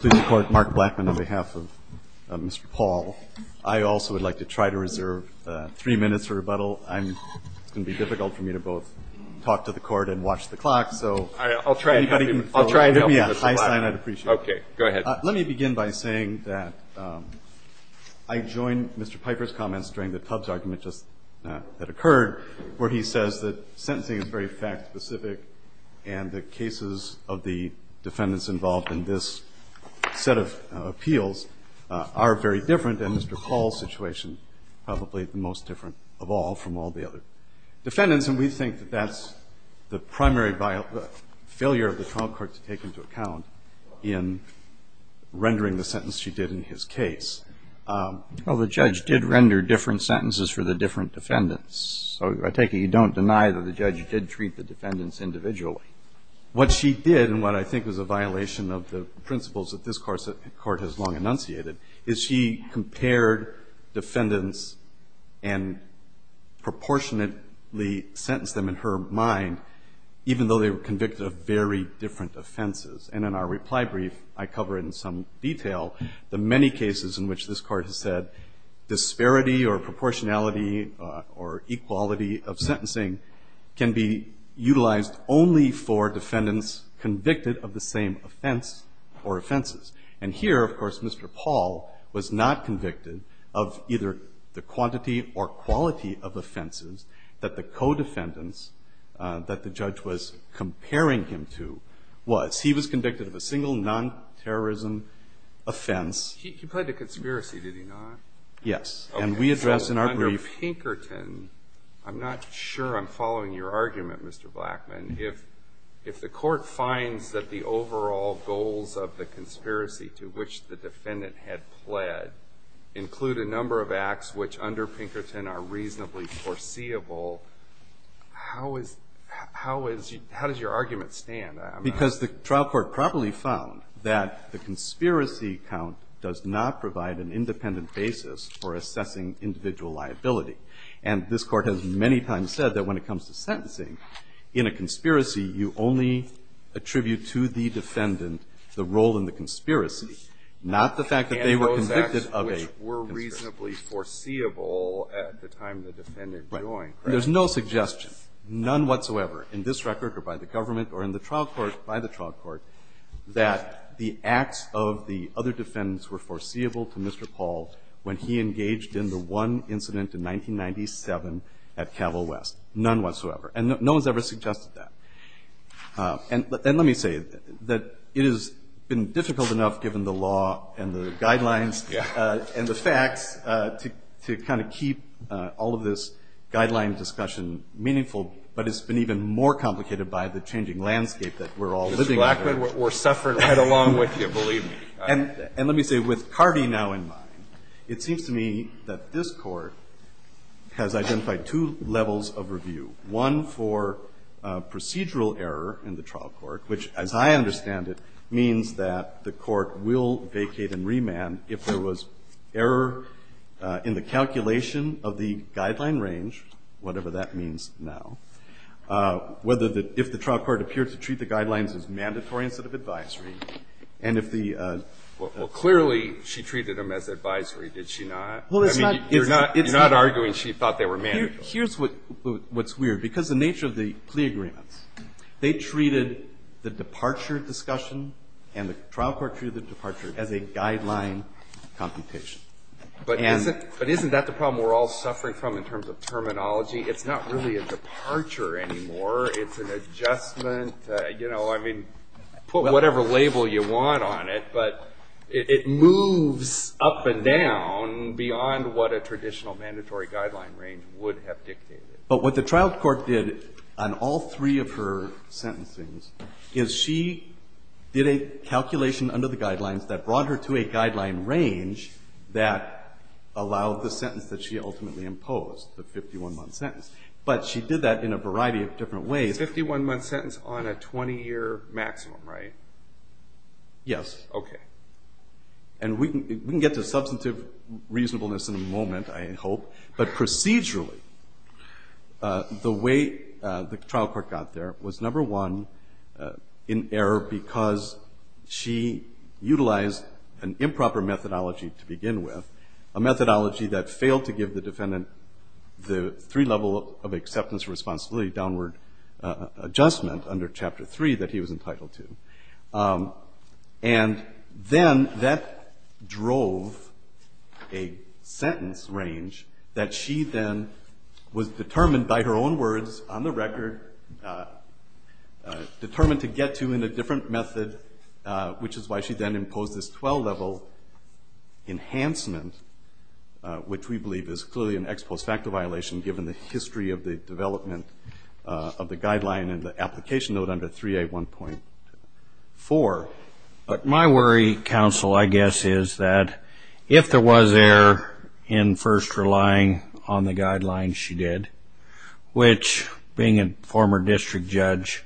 Blackman, on behalf of Mr. Paul, I also would like to try to reserve three minutes for rebuttal. It's going to be difficult for me to both talk to the Court and watch the clock, so if anybody can give me a high sign, I'd appreciate it. Okay. Go ahead. Let me begin by saying that I joined Mr. Piper's comments during the Tubbs argument that occurred, where he says that sentencing is very fact-specific, and the cases of the defendants involved in this set of appeals are very different, and Mr. Paul's situation probably the most different of all from all the other defendants, and we think that that's the primary failure of the trial court to take into account in rendering the sentence she did in his case. Well, the judge did render different sentences for the different defendants, so I take it you don't deny that the judge did treat the defendants individually. What she did, and what I think is a violation of the principles that this Court has long enunciated, is she compared defendants and proportionately sentenced them in her mind, even though they were convicted of very different offenses. And in our reply brief, I cover in some detail the many cases in which this Court has said disparity or proportionality or equality of sentencing can be utilized only for defendants convicted of the same offense or offenses. And here, of course, Mr. Paul was not convicted of either the quantity or quality of offenses that the co-defendants that the judge was comparing him to was. He was convicted of a single non-terrorism offense. He played the conspiracy, did he not? Yes. And we address in our brief. Okay. So under Pinkerton, I'm not sure I'm following your argument, Mr. Blackman. If the Court finds that the overall goals of the conspiracy to which the defendant had pled include a number of acts which under Pinkerton are reasonably foreseeable, how does your argument stand? Because the trial court probably found that the conspiracy count does not provide an independent basis for assessing individual liability. And this Court has many times said that when it comes to sentencing, in a conspiracy, you only attribute to the defendant the role in the conspiracy, not the fact that they were convicted of a conspiracy. And those acts which were reasonably foreseeable at the time the defendant joined. There's no suggestion, none whatsoever, in this record or by the government or in the trial court, by the trial court, that the acts of the other defendants were foreseeable to Mr. Paul when he engaged in the one incident in 1997 at Cavill West. None whatsoever. And no one's ever suggested that. And let me say that it has been difficult enough, given the law and the guidelines and the facts, to kind of keep all of this guideline discussion meaningful. But it's been even more complicated by the changing landscape that we're all living under. Mr. Blackman, we're suffering right along with you, believe me. And let me say, with Cardi now in mind, it seems to me that this Court has identified two levels of review, one for procedural error in the trial court, which, as I understand it, means that the court will vacate and remand if there was error in the calculation of the guideline range, whatever that means now, whether the – if the trial court appeared to treat the guidelines as mandatory instead of advisory, and if the – Well, clearly, she treated them as advisory, did she not? Well, it's not – it's not – You're not arguing she thought they were mandatory. Here's what's weird. Because the nature of the plea agreements, they treated the departure discussion and the trial court treated the departure as a guideline computation. But isn't that the problem we're all suffering from in terms of terminology? It's not really a departure anymore. It's an adjustment. You know, I mean, put whatever label you want on it, but it moves up and down beyond what a traditional mandatory guideline range would have dictated. But what the trial court did on all three of her sentencings is she did a calculation under the guidelines that brought her to a guideline range that allowed the sentence that she ultimately imposed, the 51-month sentence. But she did that in a variety of different ways. A 51-month sentence on a 20-year maximum, right? Yes. Okay. And we can get to substantive reasonableness in a moment, I hope. But procedurally, the way the trial court got there was, number one, in error because she utilized an improper methodology to begin with, a methodology that failed to give the defendant the three-level of acceptance, responsibility, downward adjustment under Chapter 3 that he was entitled to. And then that drove a sentence range that she then was determined by her own words on the record, determined to get to in a different method, which is why she then imposed this 12-level enhancement, which we believe is clearly an ex post facto violation given the history of the development of the guideline and the application note under 3A1.4. My worry, counsel, I guess, is that if there was error in first relying on the guidelines she did, which being a former district judge,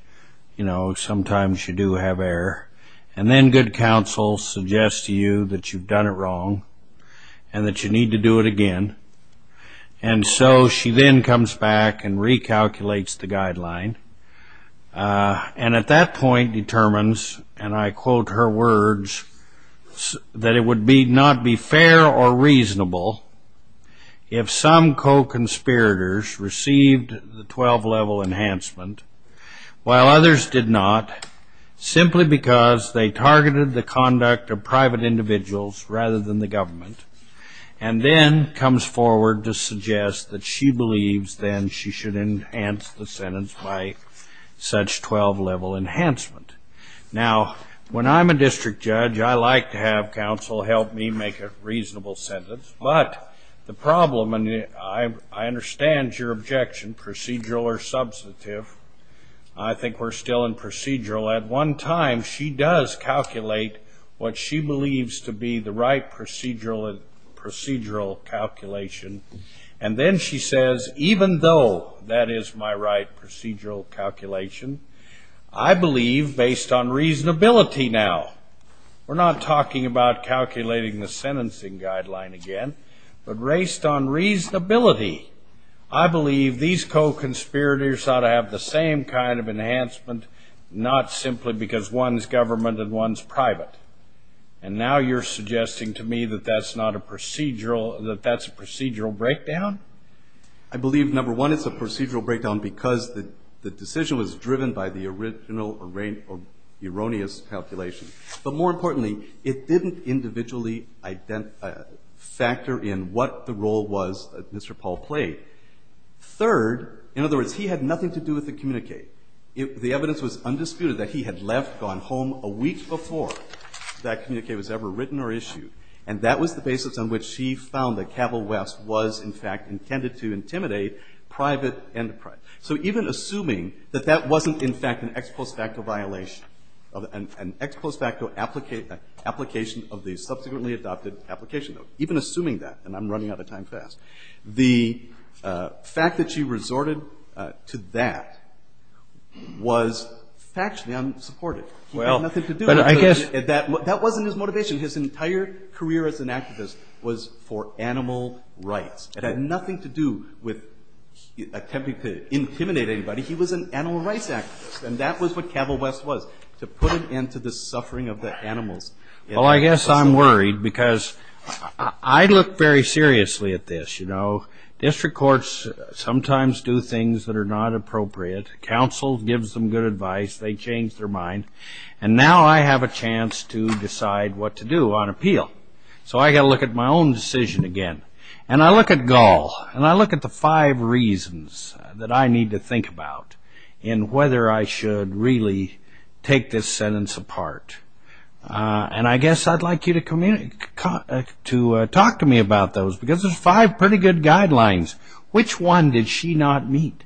you know, sometimes you do have error. And then good counsel suggests to you that you've done it wrong and that you need to do it again. And so she then comes back and recalculates the guideline. And at that point determines, and I quote her words, that it would not be fair or reasonable if some co-conspirators received the 12-level enhancement while others did not simply because they targeted the conduct of private individuals rather than the government, and then comes forward to suggest that she believes then she should enhance the sentence by such 12-level enhancement. Now, when I'm a district judge, I like to have counsel help me make a reasonable sentence. But the problem, and I understand your objection, procedural or substantive, I think we're still in procedural. At one time she does calculate what she believes to be the right procedural calculation. And then she says, even though that is my right procedural calculation, I believe based on reasonability now. We're not talking about calculating the sentencing guideline again, but based on reasonability, I believe these co-conspirators ought to have the same kind of enhancement, not simply because one's government and one's private. And now you're suggesting to me that that's not a procedural, that that's a procedural breakdown? I believe, number one, it's a procedural breakdown because the decision was driven by the original or erroneous calculation. But more importantly, it didn't individually factor in what the role was that Mr. Paul played. Third, in other words, he had nothing to do with the communique. The evidence was undisputed that he had left, gone home a week before that communique was ever written or issued. And that was the basis on which she found that Cabell West was, in fact, intended to intimidate private enterprise. So even assuming that that wasn't, in fact, an ex post facto violation, an ex post facto application of the subsequently adopted application, even assuming that, and I'm running out of time fast, the fact that she resorted to that was factually unsupported. He had nothing to do with it. That wasn't his motivation. His entire career as an activist was for animal rights. It had nothing to do with attempting to intimidate anybody. He was an animal rights activist, and that was what Cabell West was, to put an end to the suffering of the animals. Well, I guess I'm worried because I look very seriously at this. District courts sometimes do things that are not appropriate. Counsel gives them good advice. They change their mind. And now I have a chance to decide what to do on appeal. So I've got to look at my own decision again. And I look at Gall, and I look at the five reasons that I need to think about in whether I should really take this sentence apart. And I guess I'd like you to talk to me about those because there's five pretty good guidelines. Which one did she not meet?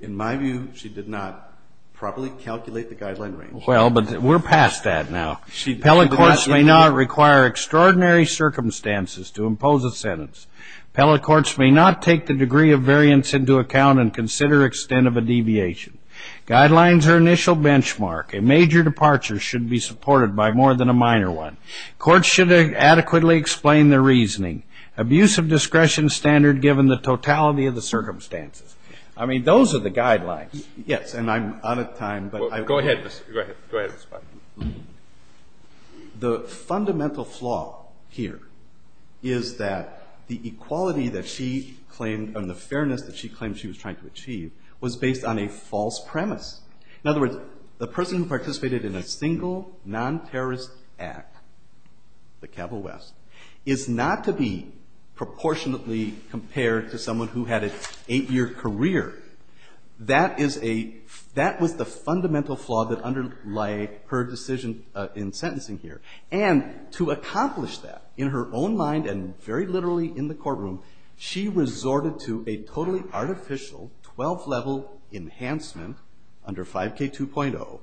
In my view, she did not properly calculate the guideline range. Well, but we're past that now. Pellet courts may not require extraordinary circumstances to impose a sentence. Pellet courts may not take the degree of variance into account and consider extent of a deviation. Guidelines are initial benchmark. A major departure should be supported by more than a minor one. Courts should adequately explain their reasoning. Abuse of discretion standard given the totality of the circumstances. I mean, those are the guidelines. Yes, and I'm out of time. Go ahead. Go ahead. The fundamental flaw here is that the equality that she claimed and the fairness that she claimed she was trying to achieve was based on a false premise. In other words, the person who participated in a single non-terrorist act, the Cabell West, is not to be proportionately compared to someone who had an eight-year career. That was the fundamental flaw that underlie her decision in sentencing here. And to accomplish that, in her own mind and very literally in the courtroom, she resorted to a totally artificial 12-level enhancement under 5K2.0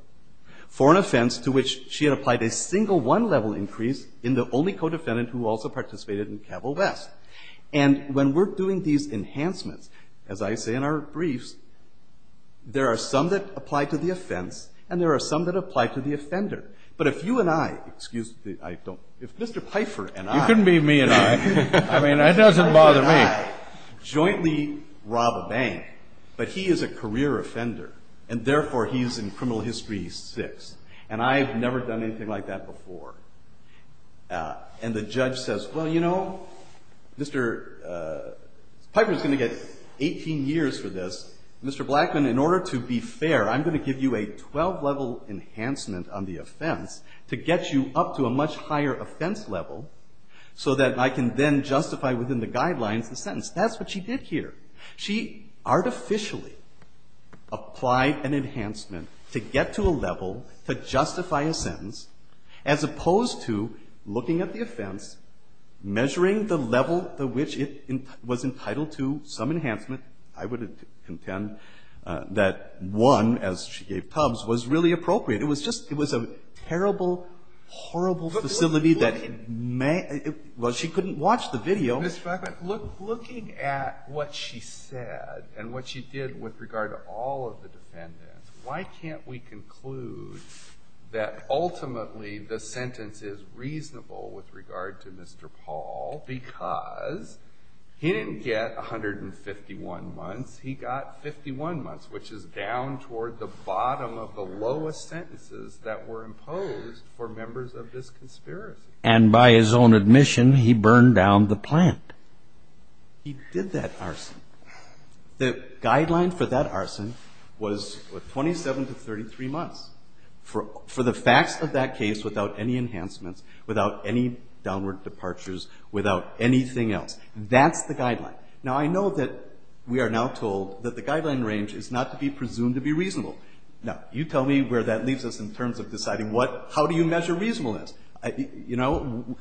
for an offense to which she had applied a single one-level increase in the only codefendant who also participated in Cabell West. And when we're doing these enhancements, as I say in our briefs, there are some that apply to the offense and there are some that apply to the offender. But if you and I, excuse me, I don't, if Mr. Pfeiffer and I... You couldn't be me and I. I mean, that doesn't bother me. ...jointly rob a bank, but he is a career offender, and therefore he is in Criminal History 6. And I have never done anything like that before. And the judge says, well, you know, Mr. Pfeiffer is going to get 18 years for this. Mr. Blackman, in order to be fair, I'm going to give you a 12-level enhancement on the offense to get you up to a much higher offense level so that I can then justify within the guidelines the sentence. That's what she did here. She artificially applied an enhancement to get to a level to justify a sentence as opposed to looking at the offense, measuring the level to which it was entitled to some enhancement. I would contend that one, as she gave Tubbs, was really appropriate. It was just, it was a terrible, horrible facility that... Well, she couldn't watch the video. Mr. Blackman, looking at what she said and what she did with regard to all of the defendants, why can't we conclude that ultimately the sentence is reasonable with regard to Mr. Paul because he didn't get 151 months. He got 51 months, which is down toward the bottom of the lowest sentences that were imposed for members of this conspiracy. And by his own admission, he burned down the plant. He did that arson. The guideline for that arson was 27 to 33 months for the facts of that case without any enhancements, without any downward departures, without anything else. That's the guideline. Now, I know that we are now told that the guideline range is not to be presumed to be reasonable. Now, you tell me where that leaves us in terms of deciding how do you measure reasonableness? You know,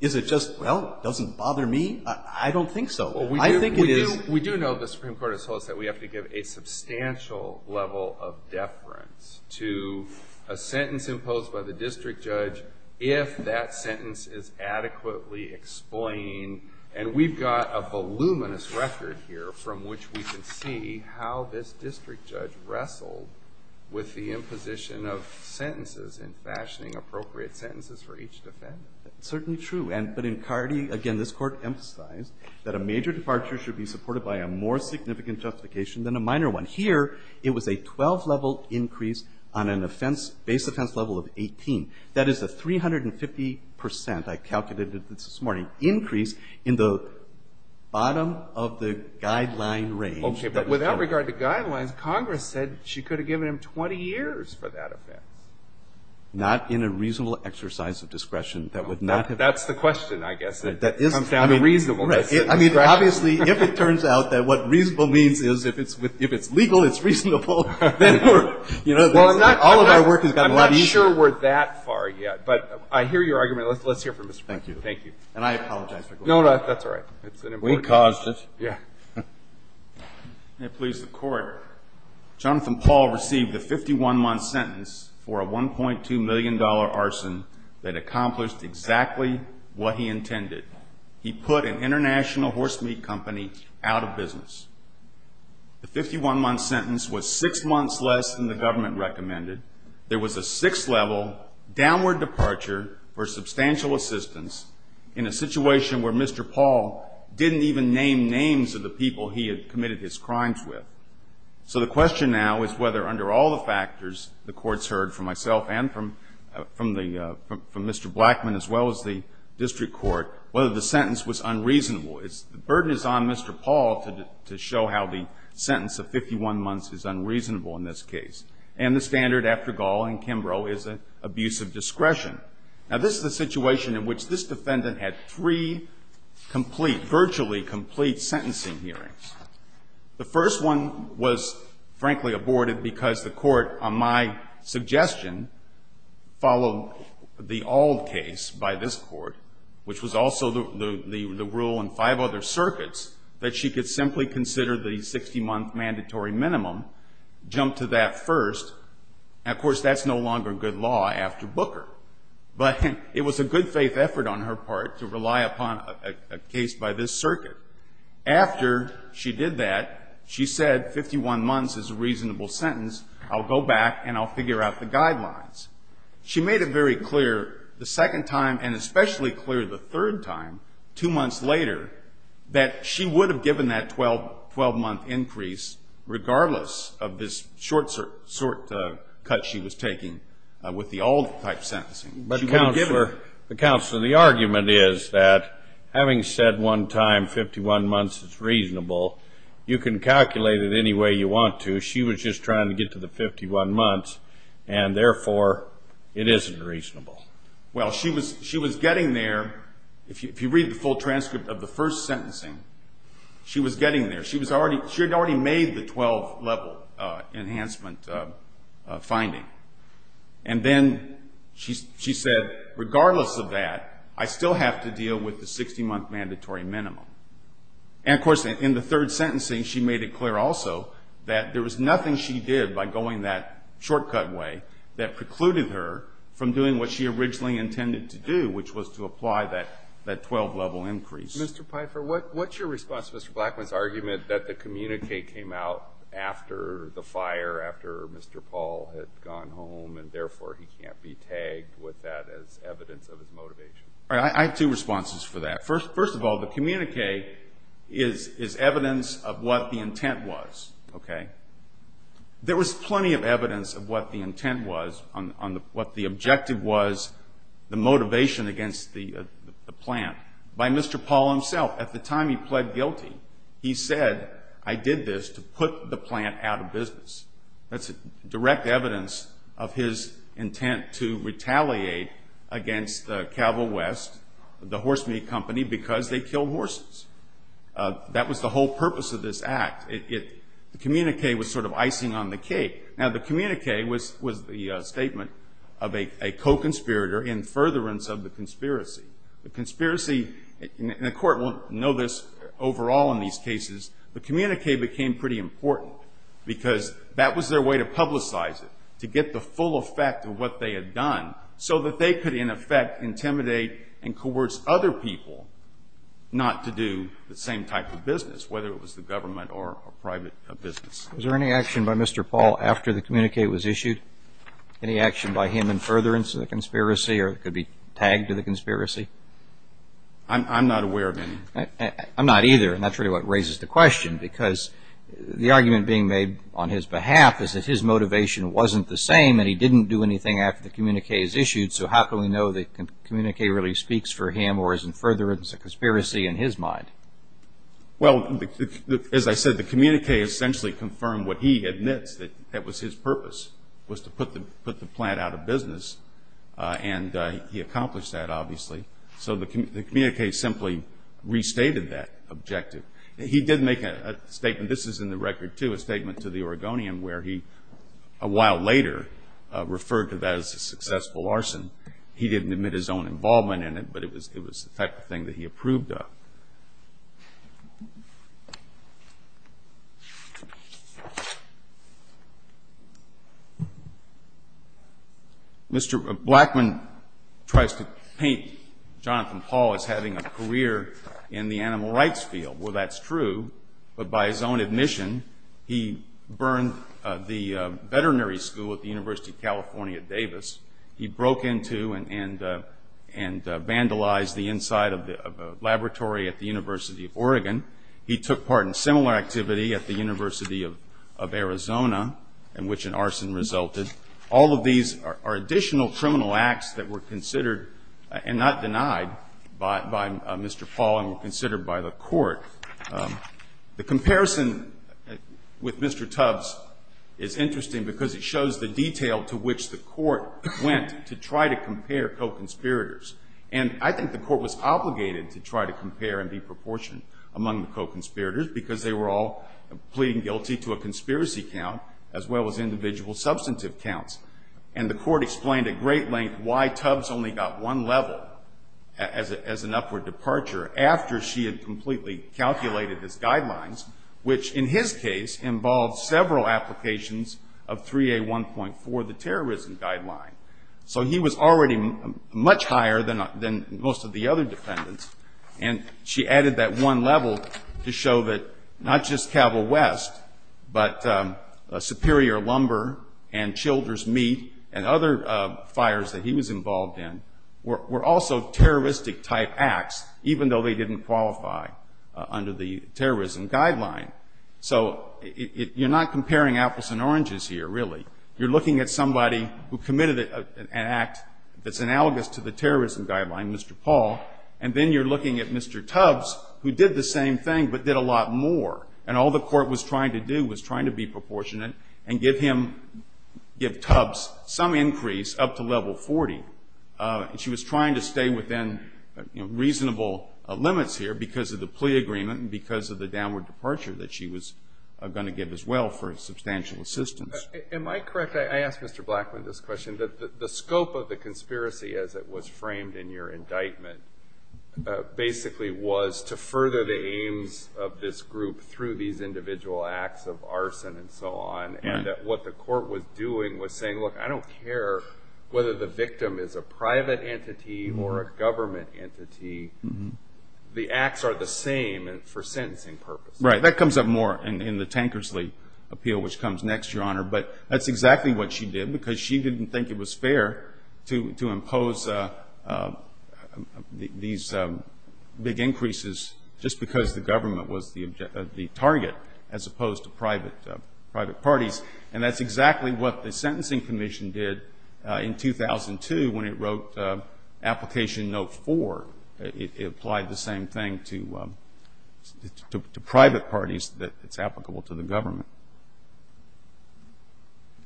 is it just, well, doesn't bother me? I don't think so. We do know the Supreme Court has told us that we have to give a substantial level of deference to a sentence imposed by the district judge if that sentence is adequately explained. And we've got a voluminous record here from which we can see how this district judge wrestled with the imposition of sentences and fashioning appropriate sentences for each defendant. It's certainly true. But in Cardi, again, this Court emphasized that a major departure should be supported by a more significant justification than a minor one. Here, it was a 12-level increase on an offense, base offense level of 18. That is a 350 percent, I calculated this morning, increase in the bottom of the guideline range. Okay. But without regard to guidelines, Congress said she could have given him 20 years for that offense. Not in a reasonable exercise of discretion. That would not have... That's the question, I guess. It comes down to reasonableness. Obviously, if it turns out that what reasonable means is if it's legal, it's reasonable, then all of our work has gotten a lot easier. I'm not sure we're that far yet. But I hear your argument. Let's hear from Mr. Brown. Thank you. And I apologize for going on. No, that's all right. We caused it. Yeah. May it please the Court. Jonathan Paul received a 51-month sentence for a $1.2 million arson that accomplished exactly what he intended. He put an international horse meat company out of business. The 51-month sentence was six months less than the government recommended. There was a six-level downward departure for substantial assistance in a situation where Mr. Paul didn't even name names of the people he had committed his crimes with. So the question now is whether under all the factors the Court's heard from myself and from Mr. Blackman as well as the district court, whether the sentence was unreasonable. The burden is on Mr. Paul to show how the sentence of 51 months is unreasonable in this case. And the standard after Gall and Kimbrough is an abuse of discretion. Now, this is a situation in which this defendant had three complete, virtually complete, sentencing hearings. The first one was, frankly, aborted because the court, on my suggestion, followed the old case by this court, which was also the rule in five other circuits, that she could simply consider the 60-month mandatory minimum, jump to that first. Now, of course, that's no longer good law after Booker. But it was a good-faith effort on her part to rely upon a case by this circuit. After she did that, she said 51 months is a reasonable sentence. I'll go back and I'll figure out the guidelines. She made it very clear the second time and especially clear the third time, two months later, that she would have given that 12-month increase regardless of this short cut she was taking with the old-type sentencing. But, Counselor, the argument is that, having said one time 51 months is reasonable, you can calculate it any way you want to. She was just trying to get to the 51 months, and, therefore, it isn't reasonable. Well, she was getting there. If you read the full transcript of the first sentencing, she was getting there. She had already made the 12-level enhancement finding. And then she said, regardless of that, I still have to deal with the 60-month mandatory minimum. And, of course, in the third sentencing, she made it clear also that there was nothing she did by going that short-cut way that precluded her from doing what she originally intended to do, which was to apply that 12-level increase. Mr. Pfeiffer, what's your response to Mr. Blackman's argument that the communique came out after the fire, after Mr. Paul had gone home, and, therefore, he can't be tagged with that as evidence of his motivation? I have two responses for that. First of all, the communique is evidence of what the intent was. Okay? There was plenty of evidence of what the intent was, what the objective was, the motivation against the plant. By Mr. Paul himself, at the time he pled guilty, he said, I did this to put the plant out of business. That's direct evidence of his intent to retaliate against Cabo West, the horse meat company, because they killed horses. That was the whole purpose of this act. The communique was sort of icing on the cake. Now, the communique was the statement of a co-conspirator in furtherance of the conspiracy. The conspiracy... And the Court won't know this overall in these cases. The communique became pretty important because that was their way to publicize it, to get the full effect of what they had done, so that they could, in effect, intimidate and coerce other people not to do the same type of business, whether it was the government or private business. Was there any action by Mr. Paul after the communique was issued? Any action by him in furtherance of the conspiracy, or it could be tagged to the conspiracy? I'm not aware of any. I'm not either, and that's really what raises the question, because the argument being made on his behalf is that his motivation wasn't the same, and he didn't do anything after the communique was issued, so how can we know the communique really speaks for him or is in furtherance of conspiracy in his mind? Well, as I said, the communique essentially confirmed what he admits, that that was his purpose, was to put the plant out of business, and he accomplished that, obviously. So the communique simply restated that objective. He did make a statement. This is in the record, too, a statement to the Oregonian where he, a while later, referred to that as a successful arson. He didn't admit his own involvement in it, but it was the type of thing that he approved of. Mr. Blackman tries to paint Jonathan Paul as having a career in the animal rights field. Well, that's true, but by his own admission, he burned the veterinary school at the University of California, Davis. He broke into and vandalized the inside of a laboratory at the University of Oregon. He took part in similar activity at the University of Arizona in which an arson resulted. All of these are additional criminal acts that were considered and not denied by Mr. Paul and were considered by the court. The comparison with Mr. Tubbs is interesting because it shows the detail to which the court went to try to compare co-conspirators. And I think the court was obligated to try to compare and be proportionate among the co-conspirators because they were all pleading guilty to a conspiracy count as well as individual substantive counts. And the court explained at great length why Tubbs only got one level as an upward departure after she had completely calculated his guidelines, which in his case involved several applications of 3A1.4, the terrorism guideline. So he was already much higher than most of the other defendants, and she added that one level to show that not just Cabell West but Superior Lumber and Childers Meat and other fires that he was involved in were also terroristic-type acts, even though they didn't qualify under the terrorism guideline. So you're not comparing apples and oranges here, really. You're looking at somebody who committed an act that's analogous to the terrorism guideline, Mr. Paul, and then you're looking at Mr. Tubbs, who did the same thing but did a lot more, and all the court was trying to do and give him, give Tubbs some increase up to level 40. She was trying to stay within reasonable limits here because of the plea agreement and because of the downward departure that she was going to give as well for substantial assistance. Am I correct? I asked Mr. Blackman this question. The scope of the conspiracy, as it was framed in your indictment, basically was to further the aims of this group through these individual acts of arson and so on, and what the court was doing was saying, Look, I don't care whether the victim is a private entity or a government entity. The acts are the same for sentencing purposes. Right. That comes up more in the Tankersley appeal, which comes next, Your Honor, but that's exactly what she did because she didn't think it was fair to impose these big increases just because the government was the target as opposed to private parties, and that's exactly what the Sentencing Commission did in 2002 when it wrote Application Note 4. It applied the same thing to private parties that it's applicable to the government.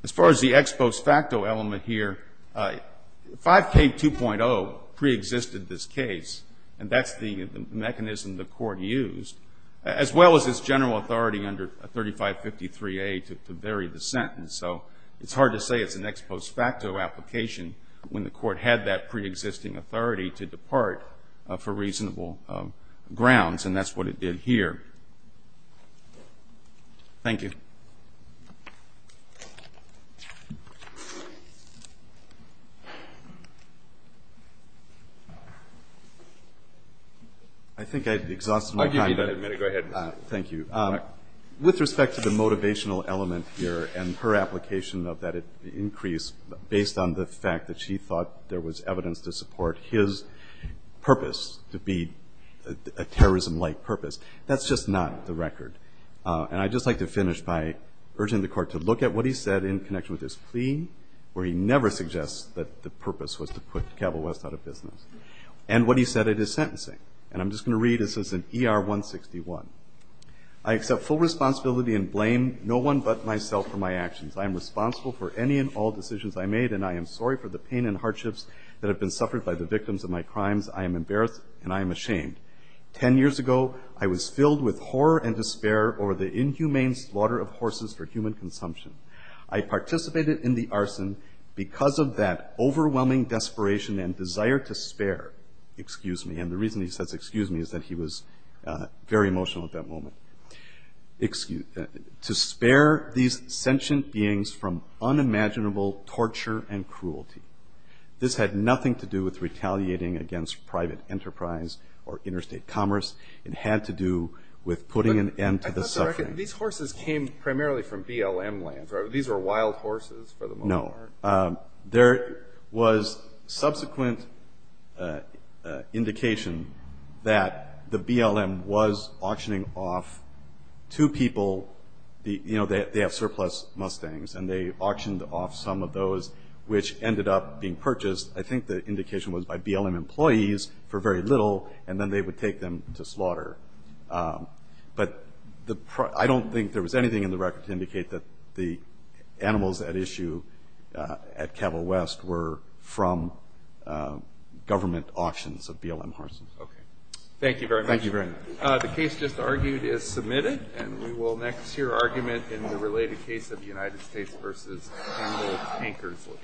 As far as the ex post facto element here, 5K2.0 preexisted this case, and that's the mechanism the court used, as well as its general authority under 3553A to vary the sentence, so it's hard to say it's an ex post facto application when the court had that preexisting authority to depart for reasonable grounds, and that's what it did here. Thank you. I think I've exhausted my time. Go ahead. Thank you. With respect to the motivational element here and her application of that increase based on the fact that she thought there was evidence to support his purpose to be a terrorism-like purpose, that's just not the record, and I'd just like to finish by urging the court to look at what he said in connection with his plea where he never suggests that the purpose was to put Cabell West out of business and what he said it is sentencing, and I'm just going to read. This is in ER 161. I accept full responsibility and blame no one but myself for my actions. I am responsible for any and all decisions I made, and I am sorry for the pain and hardships that have been suffered by the victims of my crimes. I am embarrassed, and I am ashamed. Ten years ago, I was filled with horror and despair over the inhumane slaughter of horses for human consumption. I participated in the arson because of that overwhelming desperation and desire to spare, excuse me, and the reason he says excuse me is that he was very emotional at that moment, to spare these sentient beings from unimaginable torture and cruelty. This had nothing to do with retaliating against private enterprise or interstate commerce. It had to do with putting an end to the suffering. I thought these horses came primarily from BLM lands. These were wild horses for the most part. No, there was subsequent indication that the BLM was auctioning off two people. You know, they have surplus Mustangs, and they auctioned off some of those which ended up being purchased. I think the indication was by BLM employees for very little, and then they would take them to slaughter. But I don't think there was anything in the record to indicate that the animals at issue at Cabell West were from government auctions of BLM horses. Okay. Thank you very much. Thank you very much. The case just argued is submitted, and we will next hear argument in the related case of the United States versus Campbell Tankersley. Thank you.